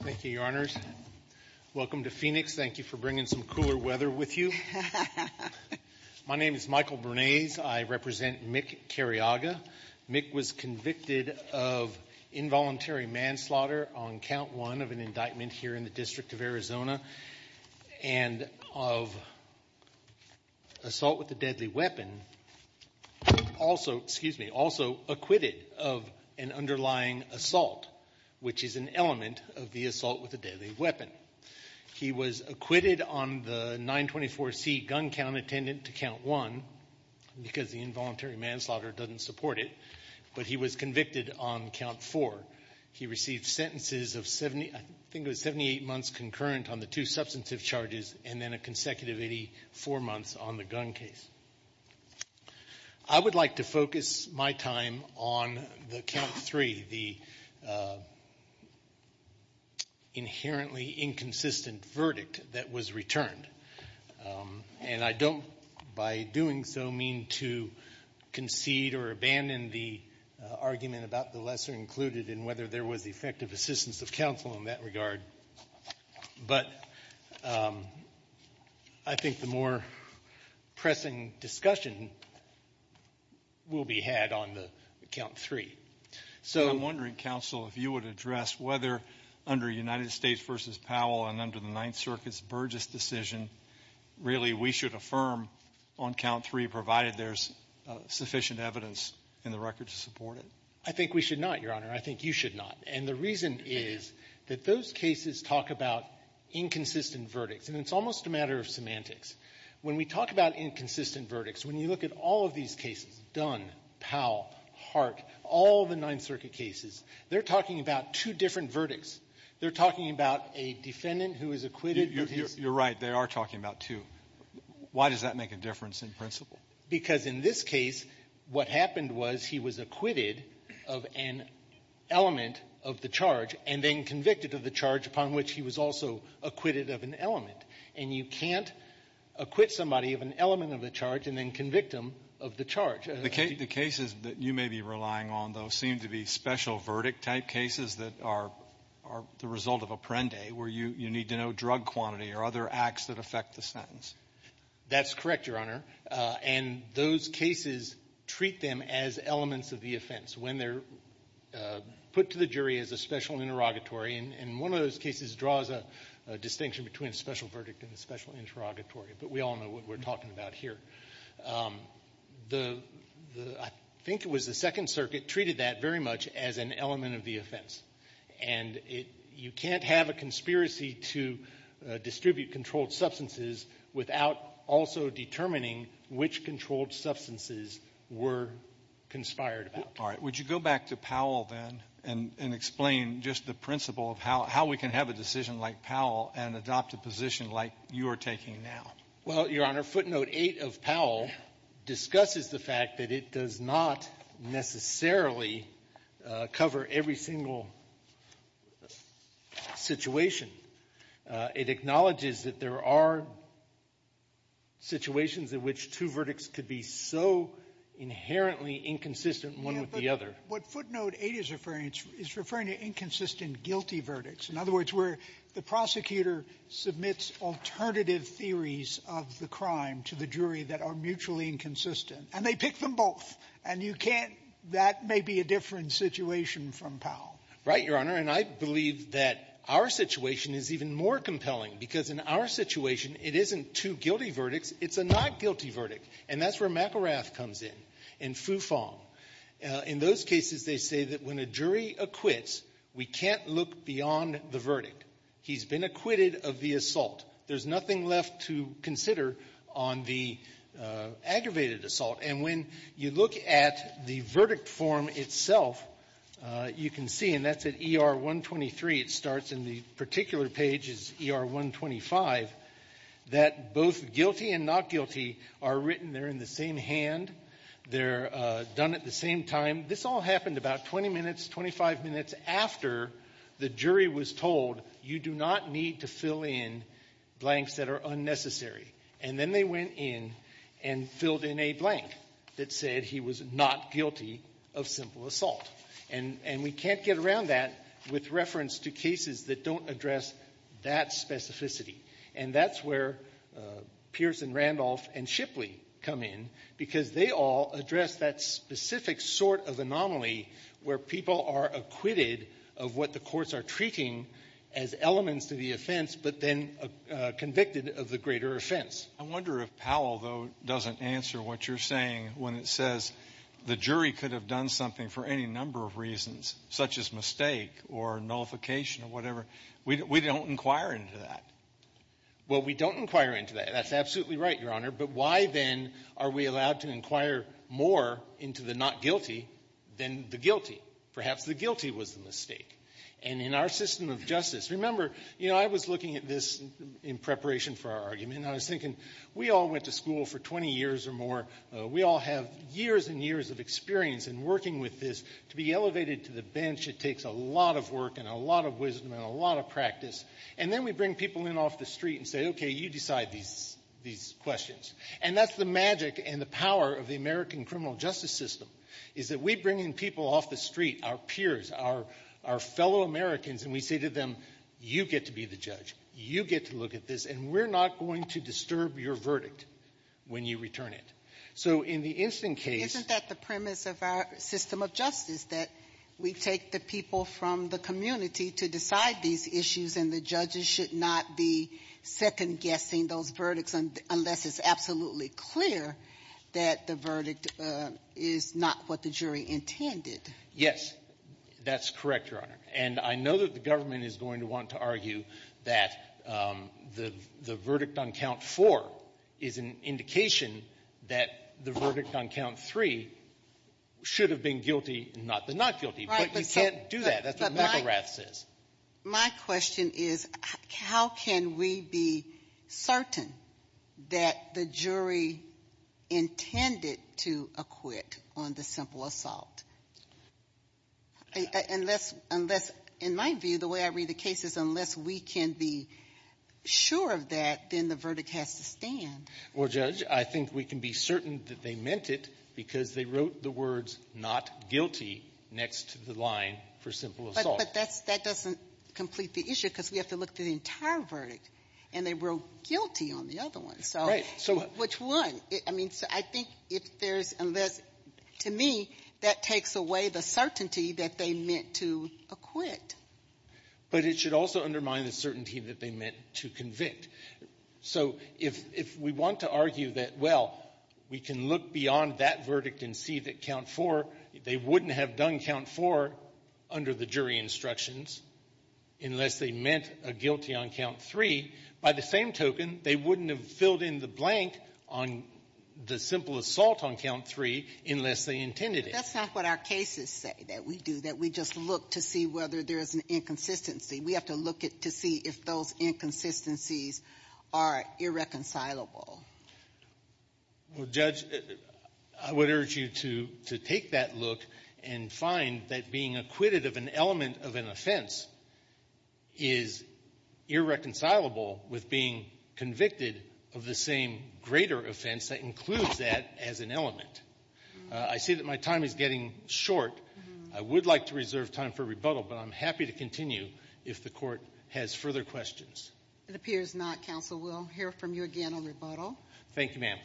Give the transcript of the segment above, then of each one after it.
Thank you, Your Honors. Welcome to Phoenix. Thank you for bringing some cooler weather with you. My name is Michael Bernays. I represent Mick Careaga. Mick was convicted of involuntary manslaughter on count one of an indictment here in the District of Arizona and of assault with a deadly weapon, also, excuse me, also acquitted of an underlying assault, which is an element of the assault with a deadly weapon. He was acquitted on the 924C gun count attendant to count one because the involuntary manslaughter doesn't support it, but he was convicted on count four. He received sentences of 70, I think it was 78 months concurrent on the two substantive charges and then a consecutive 84 months on the gun case. I would like to focus my time on count three, the inherently inconsistent verdict that was returned. And I don't, by doing so, mean to concede or abandon the argument about the lesser included in whether there was effective assistance of counsel in that regard. But I think the more pressing discussion will be had on the count three. So I'm wondering, counsel, if you would address whether under United States v. Powell and under the Ninth Circuit's Burgess decision, really we should affirm on count three provided there's sufficient evidence in the record to support it. I think we should not, Your Honor. I think you should not. And the reason is that those cases talk about inconsistent verdicts. And it's almost a matter of semantics. When we talk about inconsistent verdicts, when you look at all of these cases, Dunn, Powell, Hart, all the Ninth Circuit cases, they're talking about two different verdicts. They're talking about a defendant who was acquitted with his ---- You're right. They are talking about two. Why does that make a difference in principle? Because in this case, what happened was he was acquitted of an element of the charge and then convicted of the charge upon which he was also acquitted of an element. And you can't acquit somebody of an element of the charge and then convict them of the charge. The cases that you may be relying on, though, seem to be special verdict-type cases that are the result of a prende where you need to know drug quantity or other acts that affect the sentence. That's correct, Your Honor. And those cases treat them as elements of the offense when they're put to the jury as a special interrogatory. And one of those cases draws a distinction between a special verdict and a special interrogatory. But we all know what we're talking about here. I think it was the Second Circuit treated that very much as an element of the offense. And you can't have a conspiracy to distribute controlled substances without also determining which controlled substances were conspired about. All right. Would you go back to Powell, then, and explain just the principle of how we can have a decision like Powell and adopt a position like you are taking now? Well, Your Honor, footnote 8 of Powell discusses the fact that it does not necessarily cover every single situation. It acknowledges that there are situations in which two verdicts could be so inherently inconsistent one with the other. Yeah, but what footnote 8 is referring to is referring to inconsistent guilty verdicts. In other words, where the prosecutor submits alternative theories of the crime to the jury that are mutually inconsistent, and they pick them both. And you can't — that may be a different situation from Powell. Right, Your Honor. And I believe that our situation is even more compelling, because in our situation, it isn't two guilty verdicts. It's a not-guilty verdict. And that's where McArath comes in, in Foo Fong. In those cases, they say that when a jury acquits, we can't look beyond the verdict. He's been acquitted of the assault. There's nothing left to consider on the aggravated assault. And when you look at the verdict form itself, you can see, and that's at ER 123. It starts in the particular page, is ER 125, that both guilty and not guilty are written. They're in the same hand. They're done at the same time. This all happened about 20 minutes, 25 minutes after the jury was told, you do not need to fill in blanks that are unnecessary. And then they went in and filled in a blank that said he was not guilty of simple assault. And we can't get around that with reference to cases that don't address that specificity. And that's where Pierson, Randolph, and Shipley come in, because they all address that specific sort of anomaly where people are acquitted of what the courts are treating as elements to the offense, but then convicted of the greater offense. I wonder if Powell, though, doesn't answer what you're saying when it says the jury could have done something for any number of reasons, such as mistake or nullification or whatever. We don't inquire into that. Well, we don't inquire into that. That's absolutely right, Your Honor. But why, then, are we allowed to inquire more into the not guilty than the guilty? Perhaps the guilty was the mistake. And in our system of justice, remember, you know, I was looking at this in preparation for our argument, and I was thinking, we all went to school for 20 years or more. We all have years and years of experience in working with this. To be elevated to the bench, it takes a lot of work and a lot of wisdom and a lot of practice. And then we bring people in off the street and say, okay, you decide these questions. And that's the magic and the power of the American criminal justice system, is that we bring in people off the street, our peers, our fellow Americans, and we say to them, you get to be the judge, you get to look at this, and we're not going to disturb your verdict when you return it. So in the instant case — Isn't that the premise of our system of justice, that we take the people from the community to decide these issues, and the judges should not be second-guessing those verdicts unless it's absolutely clear that the verdict is not what the jury intended? Yes, that's correct, Your Honor. And I know that the government is going to want to argue that the verdict on Count 4 is an indication that the verdict on Count 3 should have been guilty, not been not guilty. But you can't do that. That's what McElrath says. My question is, how can we be certain that the jury intended to acquit on the simple assault? Unless, in my view, the way I read the case is, unless we can be sure of that, then the verdict has to stand. Well, Judge, I think we can be certain that they meant it because they wrote the words not guilty next to the line for simple assault. But that doesn't complete the issue because we have to look at the entire verdict, and they wrote guilty on the other one. So which one? I mean, I think if there's — to me, that takes away the certainty that they meant to acquit. But it should also undermine the certainty that they meant to convict. So if we want to argue that, well, we can look beyond that verdict and see that Count 4 — they wouldn't have done Count 4 under the jury instructions unless they meant a guilty on Count 3. By the same token, they wouldn't have filled in the blank on the simple assault on Count 3 unless they intended it. But that's not what our cases say that we do, that we just look to see whether there is an inconsistency. We have to look to see if those inconsistencies are irreconcilable. Well, Judge, I would urge you to take that look and find that being acquitted of an element of an offense is irreconcilable with being convicted of the same greater offense that includes that as an element. I see that my time is getting short. I would like to reserve time for rebuttal, but I'm happy to continue if the Court has further questions. It appears not, Counsel. We'll hear from you again on rebuttal. Thank you, ma'am.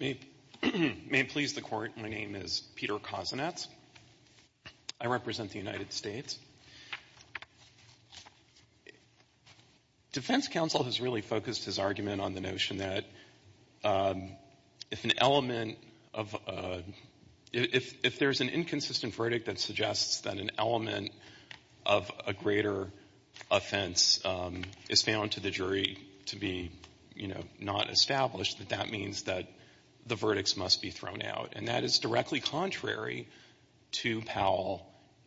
May it please the Court, my name is Peter Kozinets. I represent the United States. Defense Counsel has really focused his argument on the notion that if an element of a, if there's an inconsistent verdict that suggests that an element of a greater offense is found to the jury to be, you know, not established, that that means that the verdicts must be thrown out. And that is directly contrary to Powell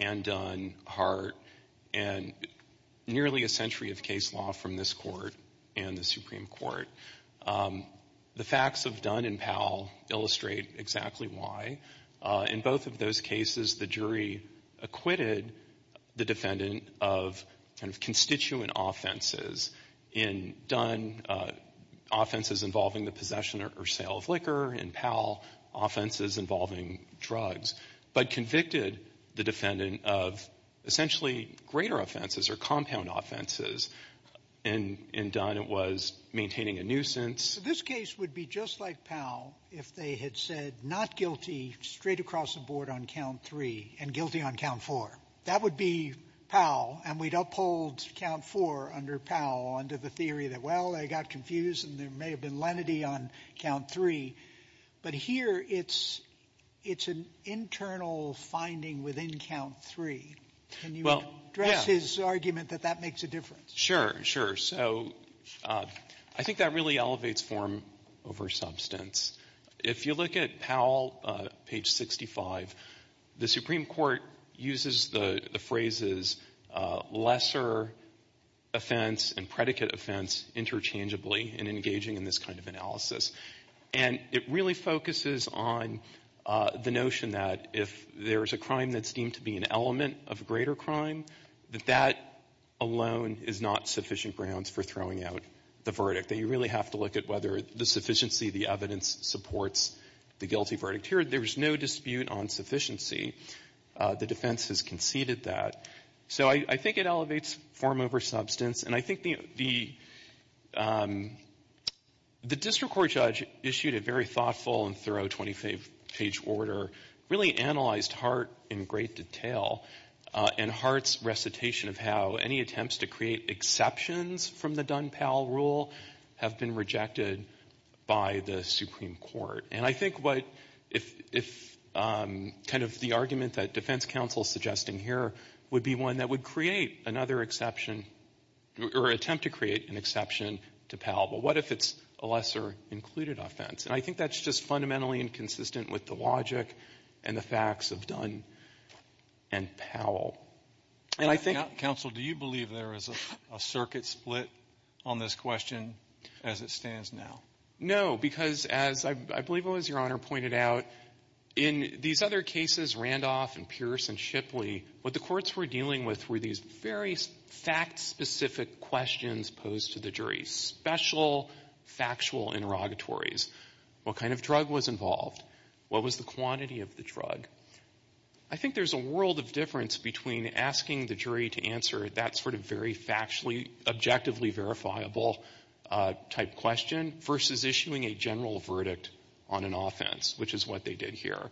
and Dunn, Hart, and nearly a century of case law from this Court and the Supreme Court. The facts of Dunn and Powell illustrate exactly why. In both of those cases, the jury acquitted the defendant of kind of constituent offenses. In Dunn, offenses involving the possession or sale of liquor. In Powell, offenses involving drugs. But convicted the defendant of essentially greater offenses or compound offenses. In Dunn, it was maintaining a nuisance. This case would be just like Powell if they had said not guilty straight across the board on count three and guilty on count four. That would be Powell. And we'd uphold count four under Powell under the theory that, well, they got confused and there may have been lenity on count three. But here it's an internal finding within count three. Can you address his argument that that makes a difference? Sure. So I think that really elevates form over substance. If you look at Powell, page 65, the Supreme Court uses the phrases lesser offense and predicate offense interchangeably in engaging in this kind of analysis. And it really focuses on the notion that if there is a crime that's deemed to be an element of a greater crime, that that alone is not sufficient grounds for throwing out the verdict. That you really have to look at whether the sufficiency of the evidence supports the guilty verdict. Here, there is no dispute on sufficiency. The defense has conceded that. So I think it elevates form over substance. And I think the district court judge issued a very thoughtful and thorough 25-page order, really analyzed Hart in great detail. And Hart's recitation of how any attempts to create exceptions from the Dunn-Powell rule have been rejected by the Supreme Court. And I think what if kind of the argument that defense counsel is suggesting here would be one that would create another exception or attempt to create an exception to Powell. But what if it's a lesser included offense? And I think that's just fundamentally inconsistent with the logic and the facts of Dunn and Powell. And I think... Counsel, do you believe there is a circuit split on this question as it stands now? No, because as I believe it was your honor pointed out, in these other cases, Randolph and Pierce and Shipley, what the courts were dealing with were these very fact-specific questions posed to the jury. Special factual interrogatories. What kind of drug was involved? What was the quantity of the drug? I think there's a world of difference between asking the jury to answer that sort of very factually, objectively verifiable type question versus issuing a general verdict on an offense, which is what they did here.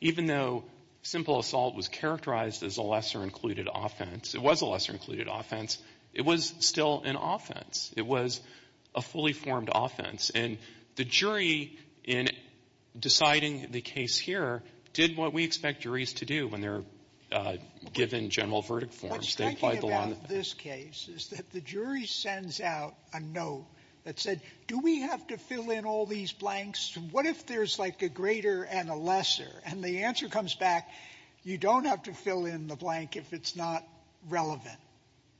Even though simple assault was characterized as a lesser included offense, it was a lesser included offense, it was still an offense. It was a fully formed offense. And the jury, in deciding the case here, did what we expect juries to do when they're given general verdict forms. What's striking about this case is that the jury sends out a note that said, do we have to fill in all these blanks? What if there's like a greater and a lesser? And the answer comes back, you don't have to fill in the blank if it's not relevant.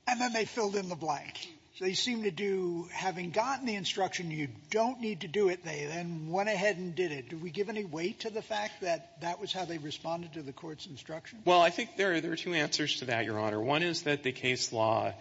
And then they filled in the blank. So they seem to do, having gotten the instruction you don't need to do it, they then went ahead and did it. Do we give any weight to the fact that that was how they responded to the court's instruction? Well, I think there are two answers to that, Your Honor. One is that the case law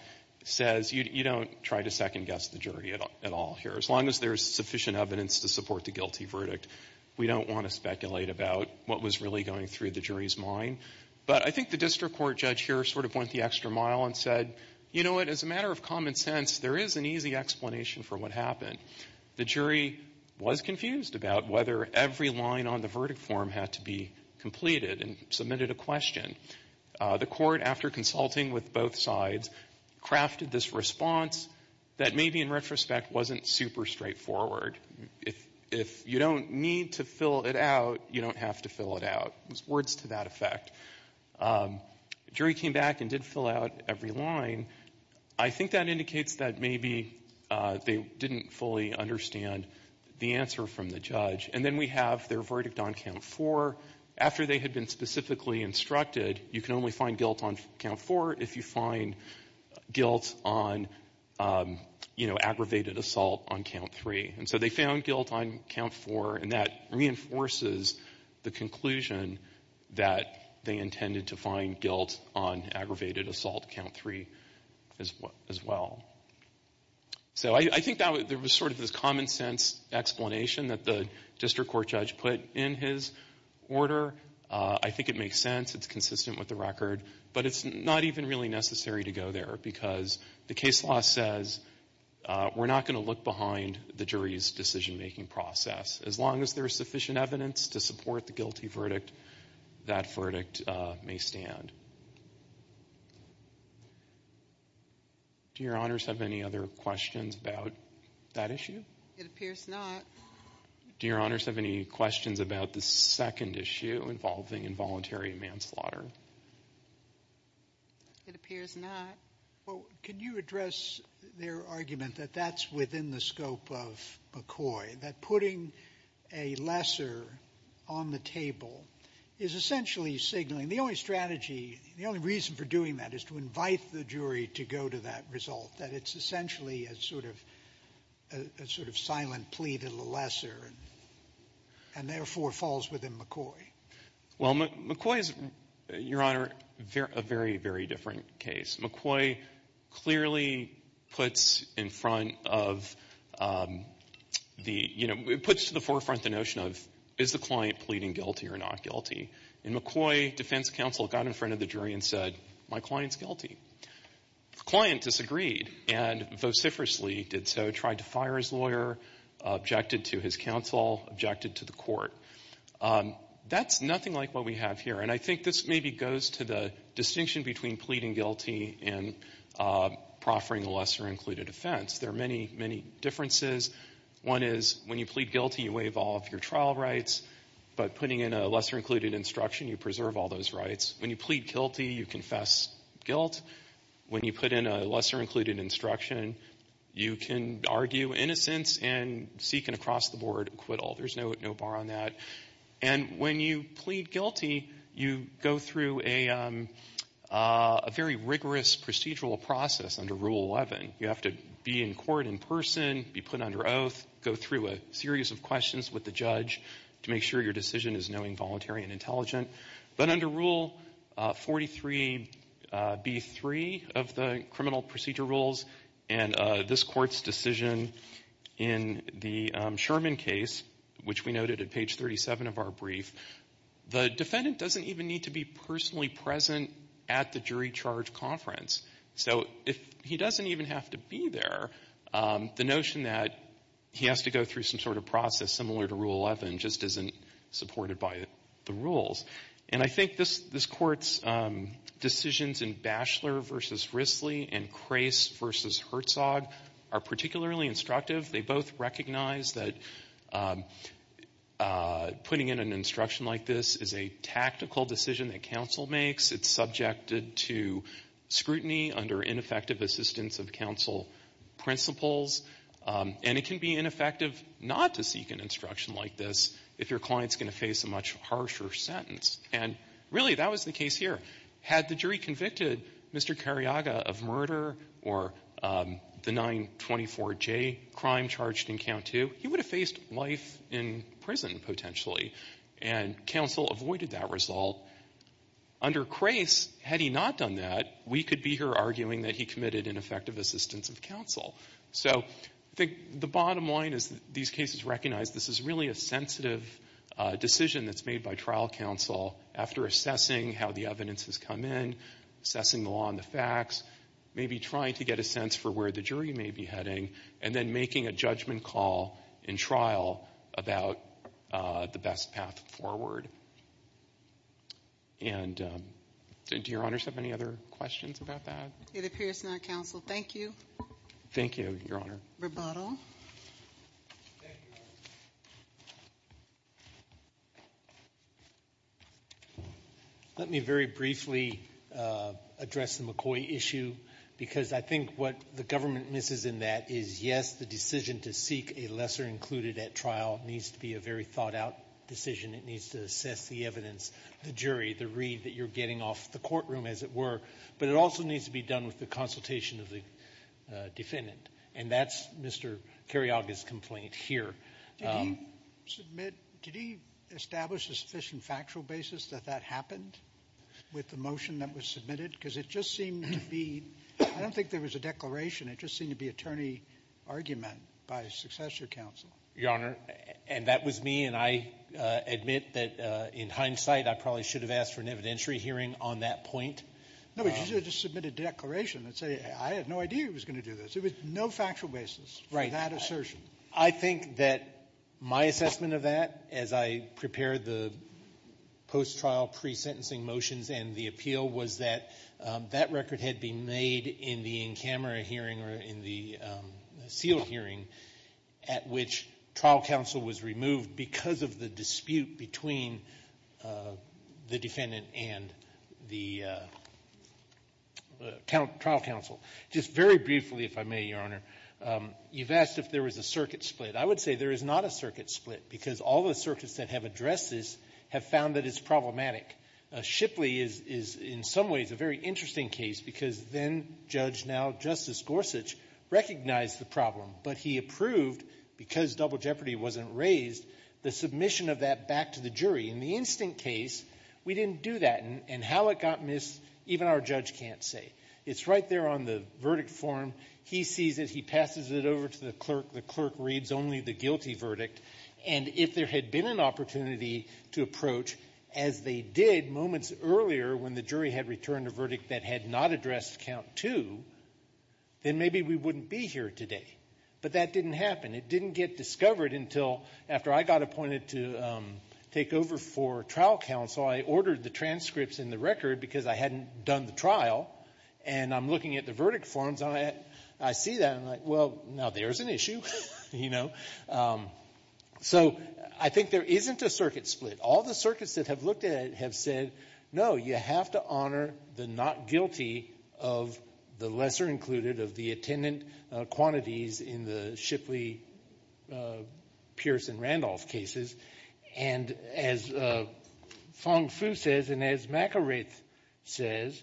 says you don't try to second-guess the jury at all here. As long as there's sufficient evidence to support the guilty verdict, we don't want to speculate about what was really going through the jury's mind. But I think the district court judge here sort of went the extra mile and said, you know what? As a matter of common sense, there is an easy explanation for what happened. The jury was confused about whether every line on the verdict form had to be completed and submitted a question. The court, after consulting with both sides, crafted this response that maybe in retrospect wasn't super straightforward. If you don't need to fill it out, you don't have to fill it out. It was words to that effect. The jury came back and did fill out every line. I think that indicates that maybe they didn't fully understand the answer from the judge. And then we have their verdict on Count 4. After they had been specifically instructed, you can only find guilt on Count 4 if you find guilt on, you know, aggravated assault on Count 3. And so they found guilt on Count 4, and that reinforces the conclusion that they intended to find guilt on aggravated assault Count 3 as well. So I think there was sort of this common sense explanation that the district court judge put in his order. I think it makes sense. It's consistent with the record. But it's not even really necessary to go there because the case law says we're not going to look behind the jury's decision-making process. As long as there is sufficient evidence to support the guilty verdict, that verdict may stand. Do your honors have any other questions about that issue? It appears not. Do your honors have any questions about the second issue involving involuntary manslaughter? It appears not. Well, can you address their argument that that's within the scope of McCoy, that putting a lesser on the table is essentially signaling? The only strategy, the only reason for doing that is to invite the jury to go to that result, that it's essentially a sort of silent plea to the lesser and therefore falls within McCoy. Well, McCoy is, your honor, a very, very different case. McCoy clearly puts in front of the, you know, puts to the forefront the notion of is the client pleading guilty or not guilty. In McCoy, defense counsel got in front of the jury and said, my client's guilty. The client disagreed and vociferously did so, tried to fire his lawyer, objected to his counsel, objected to the court. That's nothing like what we have here. And I think this maybe goes to the distinction between pleading guilty and proffering a lesser-included offense. There are many, many differences. One is when you plead guilty, you waive all of your trial rights, but putting in a lesser-included instruction, you preserve all those rights. When you plead guilty, you confess guilt. When you put in a lesser-included instruction, you can argue innocence and seek an across-the-board acquittal. There's no bar on that. And when you plead guilty, you go through a very rigorous procedural process under Rule 11. You have to be in court in person, be put under oath, go through a series of questions with the judge to make sure your decision is knowing, voluntary, and intelligent. But under Rule 43B3 of the criminal procedure rules and this court's decision in the Sherman case, which we noted at page 37 of our brief, the defendant doesn't even need to be personally present at the jury charge conference. So if he doesn't even have to be there, the notion that he has to go through some sort of process similar to Rule 11 just isn't supported by the rules. And I think this court's decisions in Batchelor v. Risley and Crace v. Herzog are particularly instructive. They both recognize that putting in an instruction like this is a tactical decision that counsel makes. It's subjected to scrutiny under ineffective assistance of counsel principles. And it can be ineffective not to seek an instruction like this if your client's going to face a much harsher sentence. And really, that was the case here. Had the jury convicted Mr. Cariaga of murder or the 924J crime charged in Count II, he would have faced life in prison potentially. And counsel avoided that result. Under Crace, had he not done that, we could be here arguing that he committed ineffective assistance of counsel. So I think the bottom line is that these cases recognize this is really a sensitive decision that's made by trial counsel after assessing how the evidence has come in, assessing the law and the facts, maybe trying to get a sense for where the jury may be heading, and then making a judgment call in trial about the best path forward. And do Your Honors have any other questions about that? It appears not, counsel. Thank you. Thank you, Your Honor. Roboto. Let me very briefly address the McCoy issue, because I think what the government misses in that is, yes, the decision to seek a lesser included at trial needs to be a very thought out decision. It needs to assess the evidence, the jury, the read that you're getting off the courtroom, as it were. But it also needs to be done with the consultation of the defendant. And that's Mr. Cariaga's complaint here. Did he establish a sufficient factual basis that that happened with the motion that was submitted? Because it just seemed to be, I don't think there was a declaration. It just seemed to be attorney argument by a successor counsel. Your Honor, and that was me. And I admit that in hindsight, I probably should have asked for an evidentiary hearing on that point. No, but you should have just submitted a declaration and said, I had no idea he was going to do this. There was no factual basis for that assertion. I think that my assessment of that, as I prepared the post-trial pre-sentencing motions and the appeal, was that that record had been made in the in-camera hearing or in the sealed hearing, at which trial counsel was removed because of the dispute between the defendant and the trial counsel. Just very briefly, if I may, Your Honor, you've asked if there was a circuit split. I would say there is not a circuit split, because all the circuits that have addressed this have found that it's problematic. Shipley is in some ways a very interesting case, because then-Judge, now-Justice Gorsuch, recognized the problem, but he approved, because double jeopardy wasn't raised, the submission of that back to the jury. In the instant case, we didn't do that. And how it got missed, even our judge can't say. It's right there on the verdict form. He sees it. He passes it over to the clerk. The clerk reads only the guilty verdict. And if there had been an opportunity to approach, as they did moments earlier, when the jury had returned a verdict that had not addressed count two, then maybe we wouldn't be here today. But that didn't happen. It didn't get discovered until after I got appointed to take over for trial counsel. I ordered the transcripts and the record, because I hadn't done the trial. And I'm looking at the verdict forms. I see that, and I'm like, well, now there's an issue, you know. So I think there isn't a circuit split. All the circuits that have looked at it have said, no, you have to honor the not guilty of the lesser included, of the attendant quantities in the Shipley, Pierce, and Randolph cases. And as Fong Fu says, and as McIrate says,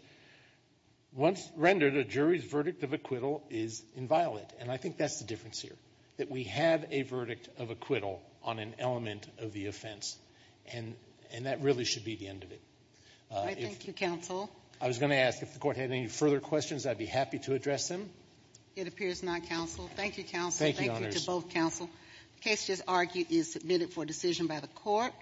once rendered, a jury's verdict of acquittal is inviolate. And I think that's the difference here. That we have a verdict of acquittal on an element of the offense. And that really should be the end of it. Thank you, counsel. I was going to ask if the court had any further questions. I'd be happy to address them. It appears not, counsel. Thank you, counsel. Thank you to both counsel. Case just argued is submitted for decision by the court.